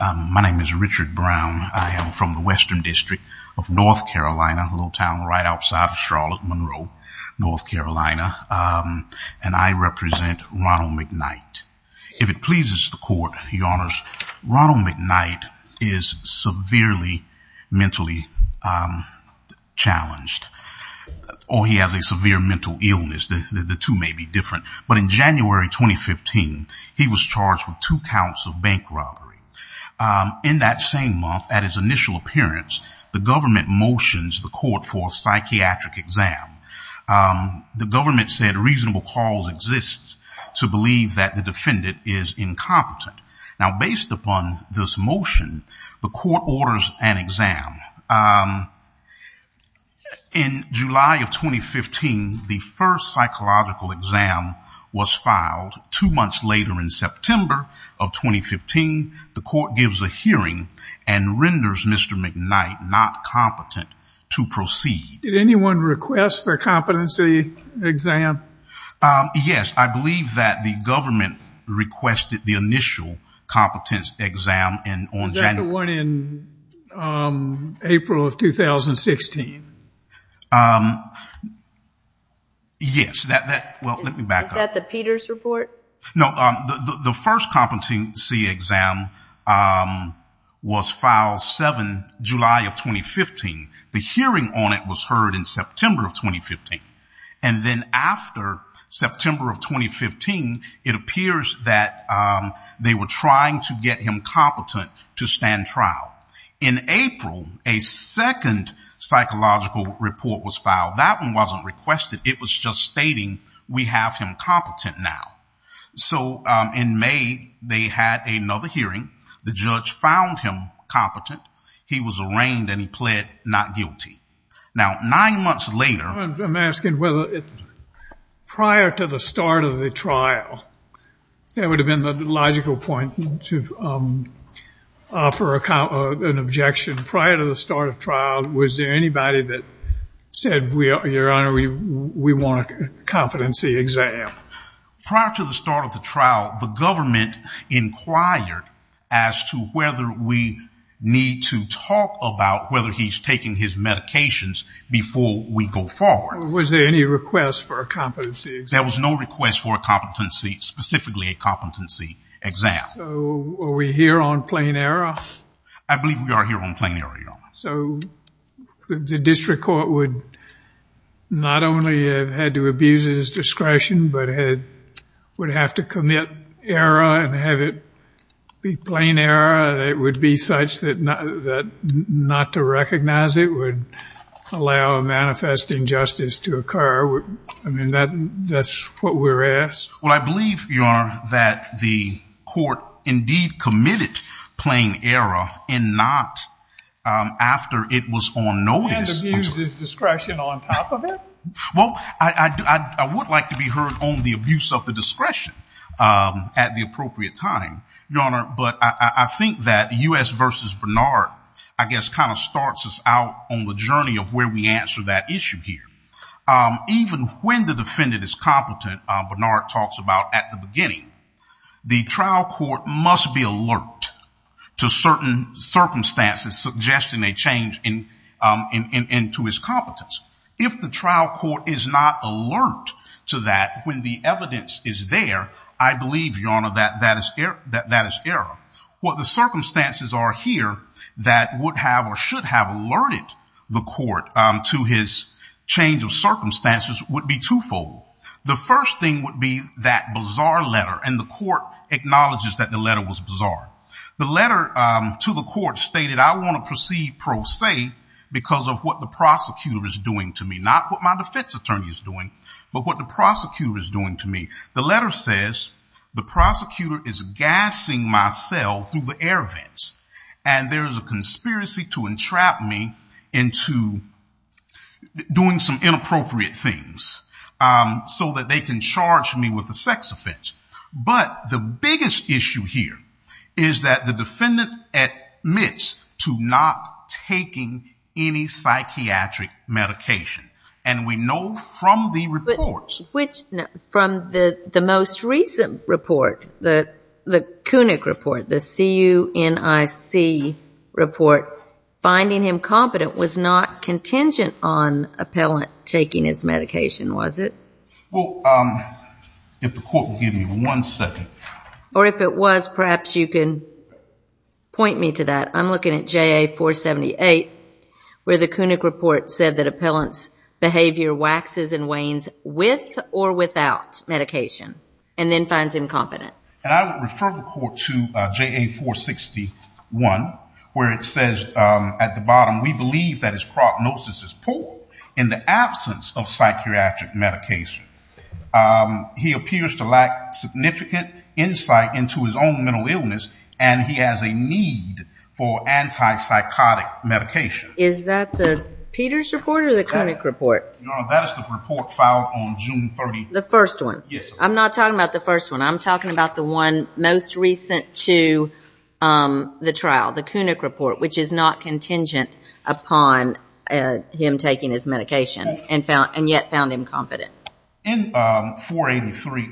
My name is Richard Brown. I am from the Western District of North Carolina, a little town right outside of Charlotte, Monroe, North Carolina, and I represent Ronald McKnight. If it pleases the court, your honors, Ronald McKnight is severely mentally challenged, or he has a severe mental illness. The two may be In that same month, at his initial appearance, the government motions the court for a psychiatric exam. The government said reasonable cause exists to believe that the defendant is incompetent. Now based upon this motion, the court orders an exam. In July of 2015, the first psychological exam was filed. Two months later, in September of 2015, the court gives a hearing and renders Mr. McKnight not competent to proceed. Did anyone request their competency exam? Yes, I believe that the government requested the initial competence exam in January. Was that the one in April of 2016? Yes. Is that the Peters report? No, the first competency exam was filed July of 2015. The hearing on it was heard in September of 2015, and then after September of 2015, it appears that they were trying to get him competent to stand trial. In April, a second psychological report was filed. That one wasn't requested. It was just stating we have him competent now. So in May, they had another hearing. The judge found him competent. He was arraigned, and he pled not guilty. Now nine months later, I'm asking whether prior to the start of the trial, there would have been the logical point to offer an objection. Prior to the start of trial, was there anybody that said, your honor, we want a competency exam? Prior to the start of the trial, the government inquired as to whether we need to talk about whether he's taking his medications before we go forward. Was there any request for a competency exam? There was no request for a competency, specifically a competency exam. So are we here on plain error? I believe we are here on plain error, your honor. So the district court would not only have had to abuse his discretion, but it would have to commit error and have it be plain error. It would be such that not to recognize it would allow a manifest injustice to occur. I mean, that's what we're asked? Well, I believe, your honor, that the court indeed committed plain error and not after it was on notice. And abused his discretion on top of it? Well, I would like to be heard on the abuse of the discretion at the appropriate time, your honor. But I think that U.S. v. Bernard, I guess, kind of starts us out on the journey of where we answer that issue here. Even when the defendant is competent, Bernard talks about at the beginning, the trial court must be alert to certain circumstances suggesting a change in to his competence. If the trial court is not alert to that when the evidence is there, I believe, your honor, that is error. What the circumstances are here that would have or should have alerted the court to his change of goal? The first thing would be that bizarre letter. And the court acknowledges that the letter was bizarre. The letter to the court stated, I want to proceed pro se because of what the prosecutor is doing to me. Not what my defense attorney is doing, but what the prosecutor is doing to me. The letter says the prosecutor is gassing myself through the air vents. And there is a conspiracy to entrap me into doing some inappropriate things so that they can charge me with a sex offense. But the biggest issue here is that the defendant admits to not taking any psychiatric medication. And we know from the reports. Which from the the most recent report, the the Kunick report, the CUNIC report, finding him competent was not contingent on appellant taking his medication, was it? Well, if the court will give me one second. Or if it was, perhaps you can point me to that. I'm looking at JA 478 where the Kunick report said that appellant's behavior waxes and wanes with or without medication. And then finds incompetent. And I would refer the court to JA 461 where it says prognosis is poor in the absence of psychiatric medication. He appears to lack significant insight into his own mental illness. And he has a need for anti-psychotic medication. Is that the Peters report or the Kunick report? That is the report filed on June 30th. The first one? Yes. I'm not talking about the first one. I'm talking about the one most recent to the trial, the Kunick report, which is not contingent upon him taking his medication and yet found him competent. In 483,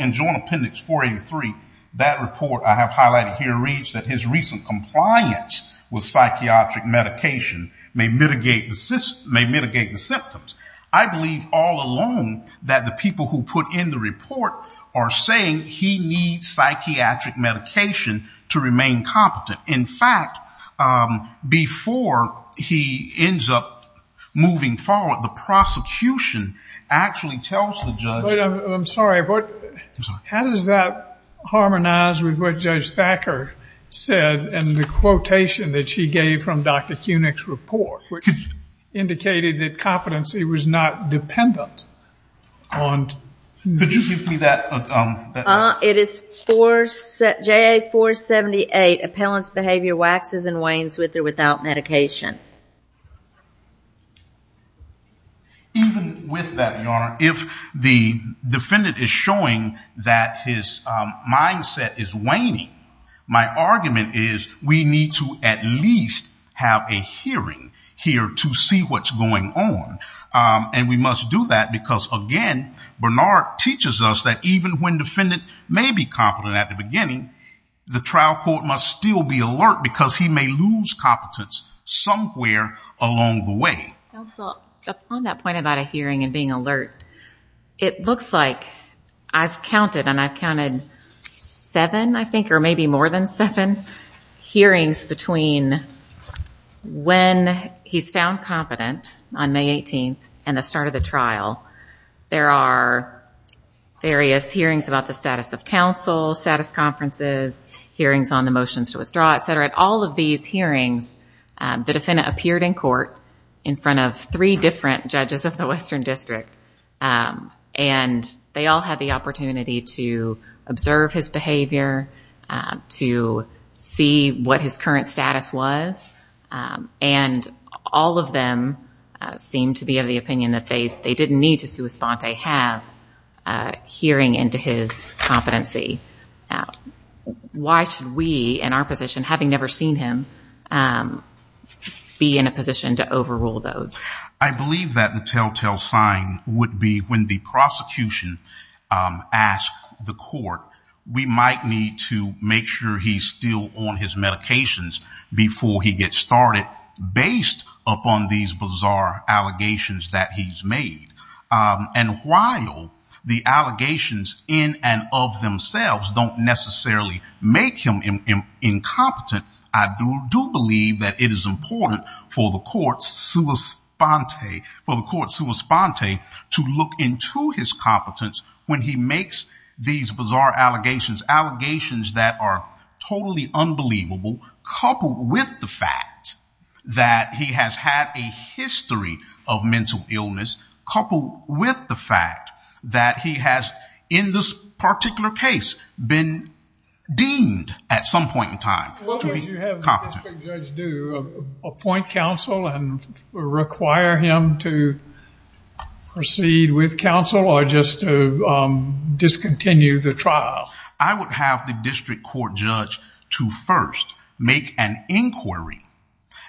in Joint Appendix 483, that report I have highlighted here reads that his recent compliance with psychiatric medication may mitigate the symptoms. I believe all alone that the people who put in the report are saying he needs psychiatric medication to remain competent. In fact, before he ends up moving forward, the prosecution actually tells the judge... I'm sorry, but how does that harmonize with what Judge Thacker said and the quotation that she gave from Dr. Kunick's report, which indicated that competency was not dependent on... Could you give me that? It is JA 478, appellant's behavior waxes and wanes with or without medication. Even with that, Your Honor, if the defendant is showing that his mindset is waning, my argument is we need to at least have a hearing here to see what's going on. And we must do that because, again, Bernard teaches us that even when the defendant may be competent at the beginning, the trial court must still be alert because he may lose competence somewhere along the way. Counsel, upon that point about a hearing and being alert, it looks like I've counted, and I've counted seven, I think, or maybe more than seven, hearings between when he's found competent on May 18th and the start of the trial. There are various hearings about the status of counsel, status conferences, hearings on the motions to withdraw, et cetera. At all of these hearings, the defendant appeared in court in front of three different judges of the Western District, and they all had the opportunity to observe his behavior, to see what his current status was, and all of them seemed to be of the opinion that they didn't need to sui sponte, have a hearing into his competency. Why should we, in our position, having never seen him, be in a position to overrule those? I believe that the telltale sign would be when the prosecution asks the court, we might need to make sure he's still on his medications before he gets started based upon these bizarre allegations that he's made. And while the allegations in and of themselves don't necessarily make him incompetent, I do believe that it is important for the court sui sponte, for the court sui sponte to look into his competence when he makes these bizarre allegations, allegations that are totally unbelievable, coupled with the fact that he has had a history of mental illness, coupled with the fact that he has, in this particular case, been deemed, at some point in time, to be incompetent. What would you have the district judge do? Appoint counsel and require him to proceed with counsel, or just to discontinue the trial? I would have the district court judge to first make an inquiry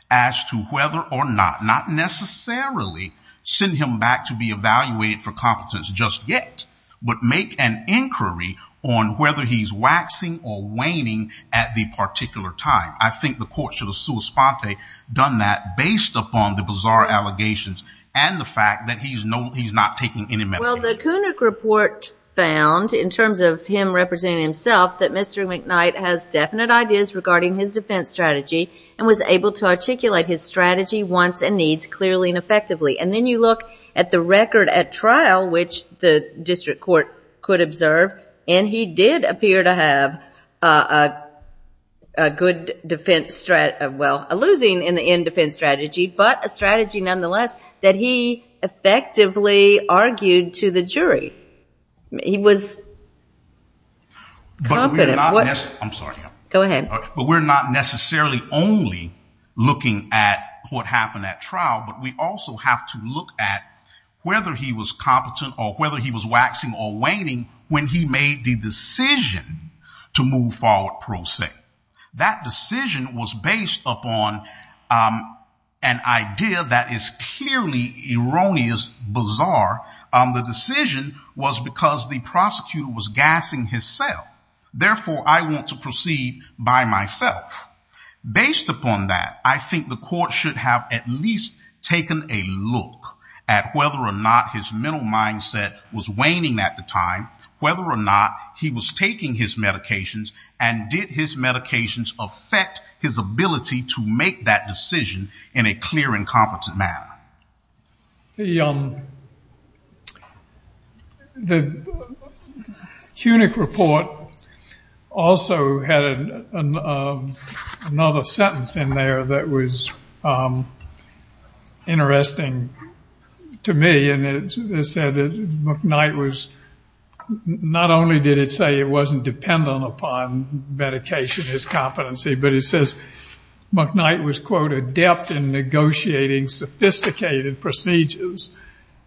as to whether or not, not necessarily send him back to be evaluated for competence just yet, but make an inquiry on whether he's waxing or waning at the particular time. I think the court should have sui sponte done that based upon the bizarre allegations and the fact that he's not taking any medication. Well, the Koenig report found, in terms of him representing himself, that Mr. McKnight has definite ideas regarding his defense strategy and was able to articulate his strategy once and needs clearly and effectively. And then you look at the record at trial, which the district court could observe, and he did appear to have a good defense strategy, well, a losing in the end defense strategy, but a strategy nonetheless that he effectively argued to the jury. He was confident. But we're not necessarily only looking at what happened at trial, but we also have to look at whether he was competent or whether he was waxing or waning when he made the decision to move forward pro se. That decision was based upon an idea that is clearly erroneous, bizarre, the decision was because the prosecutor was gassing his cell. Therefore, I want to proceed by myself. Based upon that, I think the court should have at least taken a look at whether or not his mental mindset was waning at the time, whether or not he was taking his medications and did his medications affect his ability to make that decision in a clear and competent manner. The CUNYC report also had another sentence in there that was interesting to me, and it said that McKnight was, not only did it say it wasn't dependent upon medication, his competency, but it says McKnight was, quote, adept in negotiating sophisticated procedures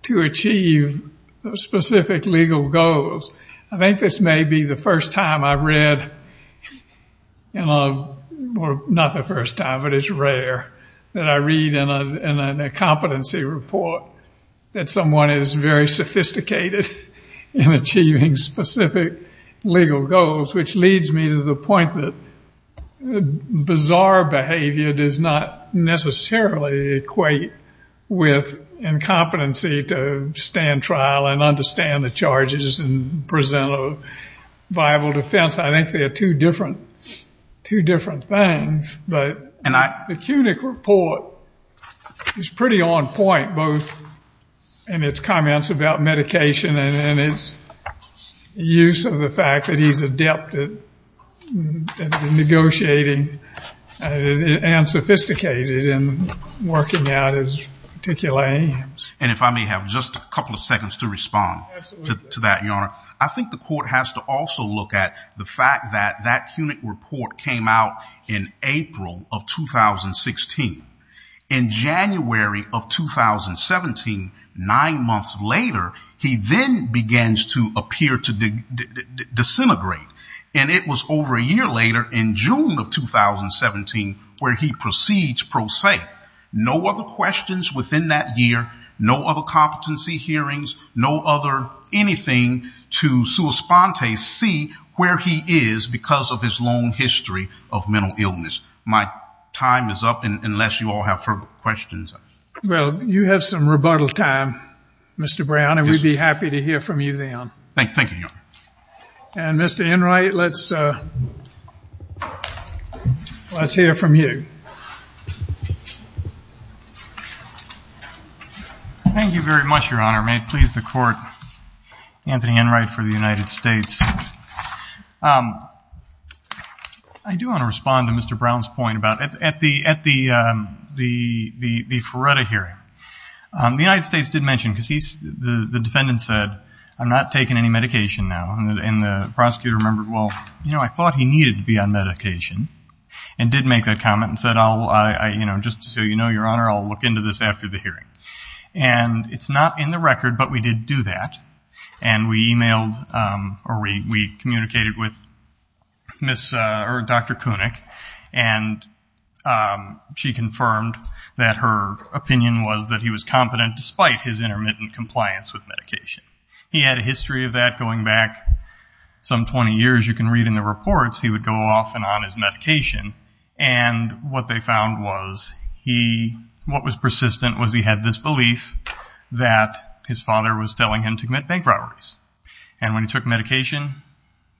to achieve specific legal goals. I think this may be the first time I've read, well, not the first time, but it's rare that I read in a competency report that someone is very sophisticated in achieving specific legal goals, which leads me to the point that bizarre behavior does not necessarily equate with incompetency to stand trial and understand the charges and present a viable defense. I think they are two different things, but the CUNYC report is pretty on point, both in its comments about medication and its use of the fact that he's adept at negotiating and sophisticated in working out his particular aims. And if I may have just a couple of seconds to respond to that, Your Honor. I think the court has to also look at the fact that that CUNYC report came out in April of 2016. In January of 2017, nine months later, he then begins to appear to And it was over a year later in June of 2017 where he proceeds pro se. No other questions within that year, no other competency hearings, no other anything to sua sponte see where he is because of his long history of mental illness. My time is up, unless you all have further questions. Well, you have some rebuttal time, Mr. Brown, and we'd be happy to hear from you then. Thank you, Your Honor. And, Mr. Enright, let's hear from you. Thank you very much, Your Honor. May it please the court, Anthony Enright for the United States. I do want to respond to Mr. Brown's point about at the FRERETA hearing, the United Prosecutor remembered, well, I thought he needed to be on medication and did make that comment and said, just so you know, Your Honor, I'll look into this after the hearing. And it's not in the record, but we did do that. And we communicated with Dr. CUNYC, and she confirmed that her opinion was that he was competent despite his intermittent compliance with medication. He had a history of that going back some 20 years. You can read in the reports, he would go off and on his medication. And what they found was he, what was persistent was he had this belief that his father was telling him to commit bank robberies. And when he took medication,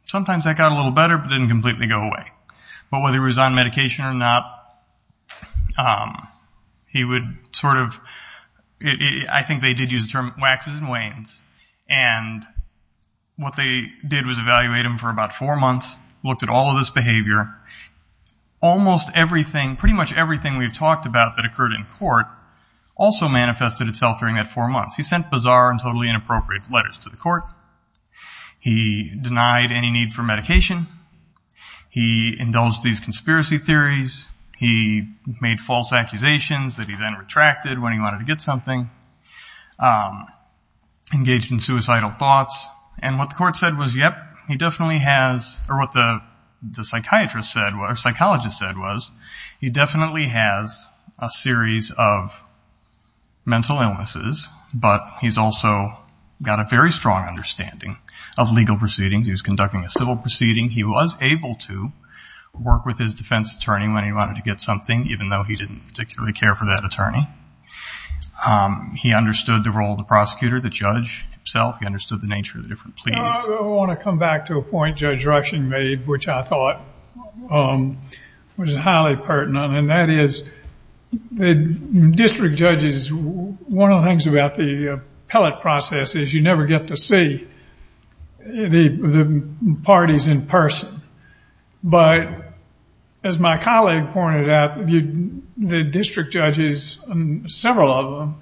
sometimes that got a little better but didn't completely go away. But whether he was on medication or not, he would sort of, I think they did use the And what they did was evaluate him for about four months, looked at all of this behavior. Almost everything, pretty much everything we've talked about that occurred in court also manifested itself during that four months. He sent bizarre and totally inappropriate letters to the court. He denied any need for medication. He indulged these conspiracy theories. He made false accusations that he then retracted when he wanted to get something. Engaged in suicidal thoughts. And what the court said was, yep, he definitely has, or what the psychiatrist said, or psychologist said was, he definitely has a series of mental illnesses, but he's also got a very strong understanding of legal proceedings. He was conducting a civil proceeding. He was able to work with his defense attorney when he wanted to get something, even though he didn't particularly care for that attorney. He understood the role of the prosecutor, the judge himself. He understood the nature of the different pleas. I want to come back to a point Judge Rushing made, which I thought was highly pertinent, and that is the district judges, one of the things about the appellate process is you never get to see the parties in person. But as my colleague pointed out, the district judges, several of them,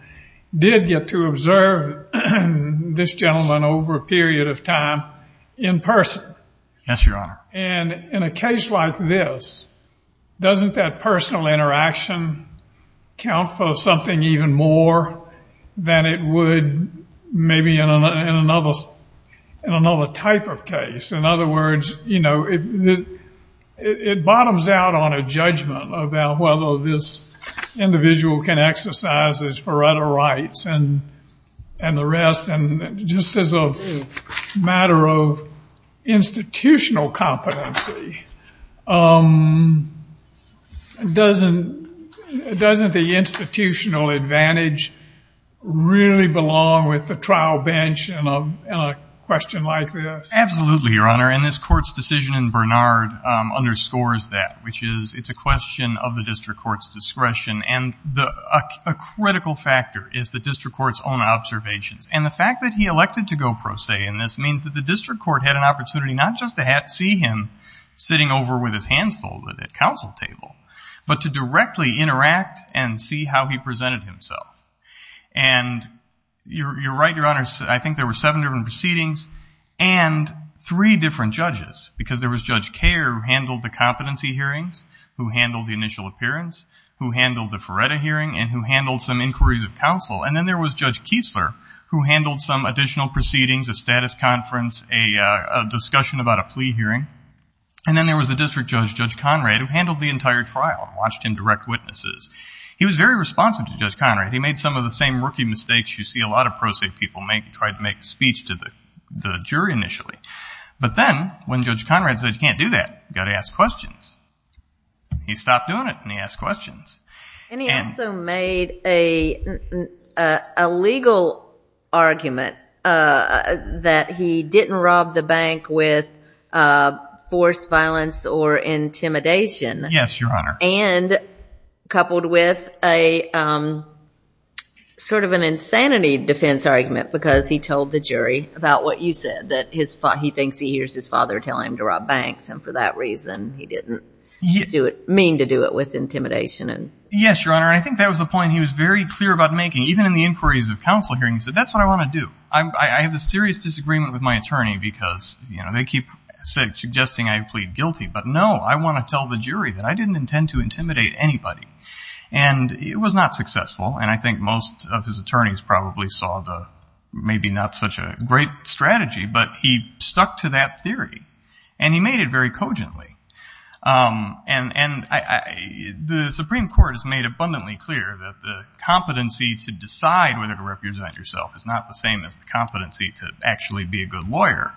did get to observe this gentleman over a period of time in person. Yes, Your Honor. And in a case like this, doesn't that personal interaction count for something even more than it would maybe in another type of case? In other words, it bottoms out on a judgment about whether this individual can exercise his forerunner rights and the rest. And just as a matter of institutional competency, doesn't the institutional advantage really belong with the trial bench in a question like this? Absolutely, Your Honor, and this court's decision in Bernard underscores that, which is it's a question of the district court's discretion. And a critical factor is the district court's own observations. And the fact that he elected to go pro se in this means that the district court had an opportunity not just to see him sitting over with his hands folded at counsel table, but to directly interact and see how he presented himself. And you're right, Your Honor, I think there were seven different proceedings and three different judges. Because there was Judge Kerr, who handled the competency hearings, who handled the initial appearance, who handled the Feretta hearing, and who handled some inquiries of counsel. And then there was Judge Kiesler, who handled some additional proceedings, a status conference, a discussion about a plea hearing. And then there was a district judge, Judge Conrad, who handled the entire trial and watched him direct witnesses. He was very responsive to Judge Conrad. He made some of the same rookie mistakes you see a lot of pro se people make. He tried to make a speech to the jury initially. But then when Judge Conrad said, you can't do that, you've got to ask questions, he stopped doing it and he asked questions. And he also made a legal argument that he didn't rob the bank with forced violence or intimidation. Yes, Your Honor. And coupled with a sort of an insanity defense argument, because he told the jury about what you said, that he thinks he hears his father telling him to rob banks. And for that reason, he didn't mean to do it with intimidation Yes, Your Honor. I think that was the point he was very clear about making. Even in the inquiries of counsel hearings, he said, that's what I want to do. I have a serious disagreement with my attorney because, you know, they keep suggesting I plead guilty. But no, I want to tell the jury that I didn't intend to intimidate anybody. And it was not successful. And I think most of his attorneys probably saw the, maybe not such a great strategy, but he stuck to that theory. And he made it very cogently. And the Supreme Court has made abundantly clear that the competency to decide whether to represent yourself is not the same as the competency to actually be a good lawyer.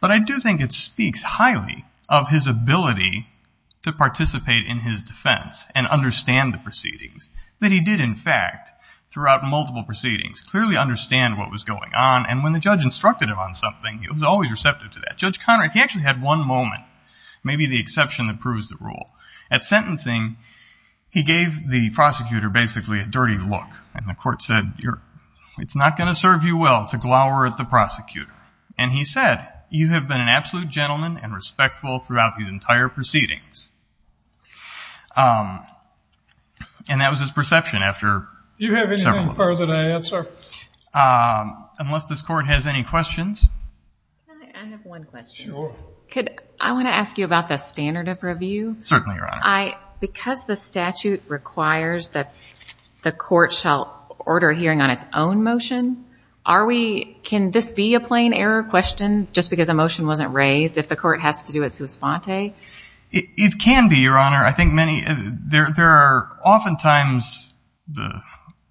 But I do think it speaks highly of his ability to participate in his defense and understand the proceedings. That he did, in fact, throughout multiple proceedings, clearly understand what was going on. And when the judge instructed him on something, he was always receptive to that. Judge Conrad, he actually had one moment. Maybe the exception that proves the rule. At sentencing, he gave the prosecutor, basically, a dirty look. And the court said, it's not going to serve you well to glower at the prosecutor. And he said, you have been an absolute gentleman and respectful throughout these entire proceedings. And that was his perception after several of those. Do you have anything further to answer? Unless this court has any questions. I have one question. Could I want to ask you about the standard of review? Certainly, Your Honor. Because the statute requires that the court shall order a hearing on its own motion, can this be a plain error question, just because a motion wasn't raised, if the court has to do it sua sponte? It can be, Your Honor. I think there are oftentimes the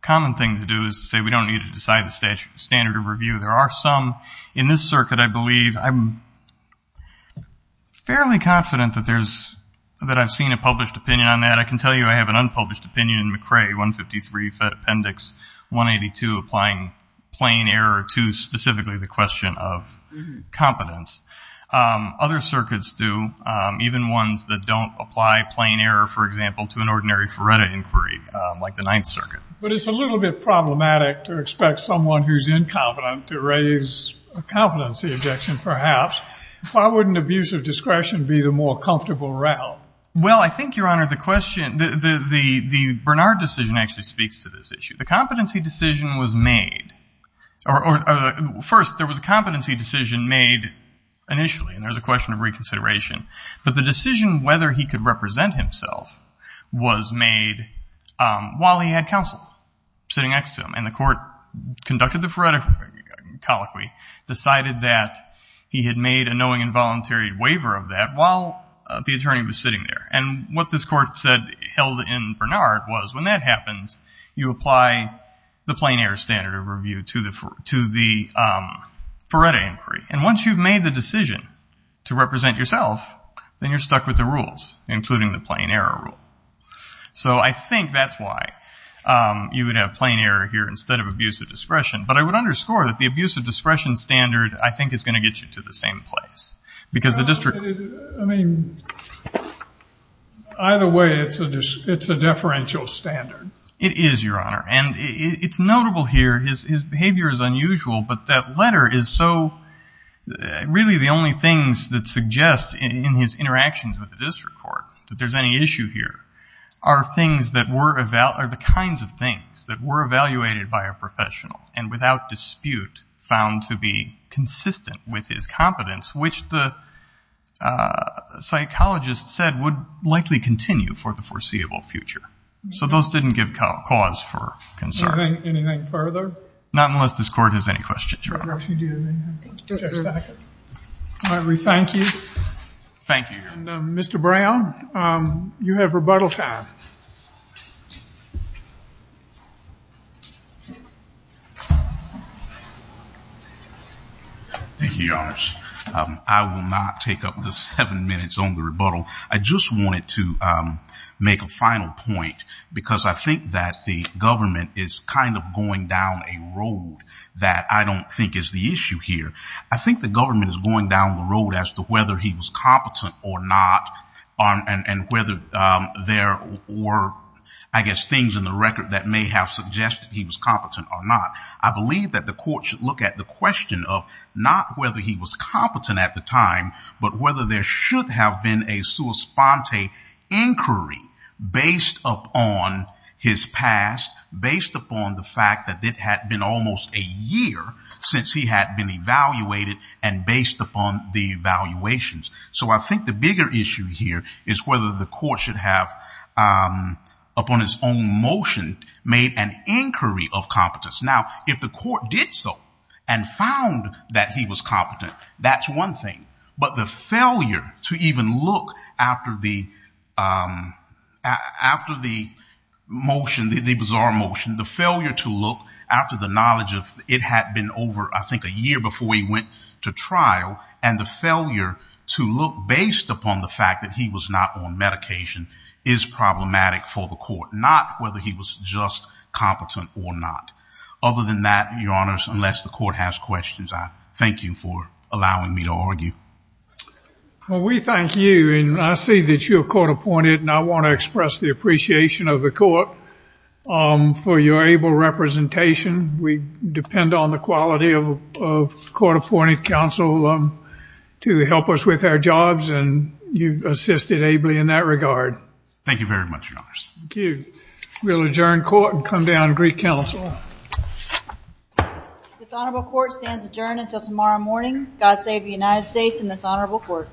common thing to do is to say we don't need to decide the standard of review. There are some in this circuit, I believe. I'm fairly confident that I've seen a published opinion on that. I can tell you I have an unpublished opinion in McRae, 153 Appendix 182, applying plain error to specifically the question of competence. Other circuits do. Even ones that don't apply plain error, for example, to an ordinary Feretta inquiry, like the Ninth Circuit. But it's a little bit problematic to expect someone who's incompetent to raise a competency objection, perhaps. Why wouldn't abuse of discretion be the more comfortable route? Well, I think, Your Honor, the Bernard decision actually speaks to this issue. The competency decision was made. First, there was a competency decision made initially, and there's a question of reconsideration. But the decision whether he could represent himself was made while he had counsel sitting next to him. And the court conducted the Feretta colloquy, decided that he had made a knowing involuntary waiver of that while the attorney was sitting there. And what this court held in Bernard was, when that happens, you apply the plain error standard of review to the Feretta inquiry. And once you've made the decision to represent yourself, then you're stuck with the rules, including the plain error rule. So I think that's why you would have plain error here instead of abuse of discretion. But I would underscore that the abuse of discretion standard, I think, is going to get you to the same place. Because the district- I mean, either way, it's a deferential standard. It is, Your Honor. And it's notable here, his behavior is unusual. But that letter is so- really, the only things that suggest in his interactions with the district court that there's any issue here are the kinds of things that were evaluated by a professional and without dispute found to be consistent with his competence, which the psychologist said would likely continue for the foreseeable future. So those didn't give cause for concern. Anything further? Not unless this court has any questions. Right. We do. Thank you, Judge Sackett. All right. We thank you. Thank you, Your Honor. Mr. Brown, you have rebuttal time. Thank you, Your Honor. I will not take up the seven minutes on the rebuttal. I just wanted to make a final point, because I think that the government is kind of going down a road that I don't think is the issue here. I think the government is going down the road as to whether he was competent or not, and whether there were, I guess, things in the record that may have suggested he was competent or not. I believe that the court should look at the question of not whether he was competent at the time, but whether there should have been a sua sponte inquiry based upon his past, based upon the fact that it had been almost a year since he had been evaluated, and based upon the evaluations. So I think the bigger issue here is whether the court should have, upon its own motion, made an inquiry of competence. Now, if the court did so and found that he was competent, that's one thing. But the failure to even look after the motion, the bizarre motion, the failure to look after the knowledge of it had been over, I think, a year before he went to trial, and the failure to look based upon the fact that he was not on medication is problematic for the court, not whether he was just competent or not. Other than that, Your Honors, unless the court has questions, I thank you for allowing me to argue. Well, we thank you. And I see that you're court appointed, and I want to express the appreciation of the court for your able representation. We depend on the quality of court appointed counsel to help us with our jobs, and you've assisted ably in that regard. Thank you very much, Your Honors. Thank you. We'll adjourn court and come down to Greek Council. This honorable court stands adjourned until tomorrow morning. God save the United States and this honorable court.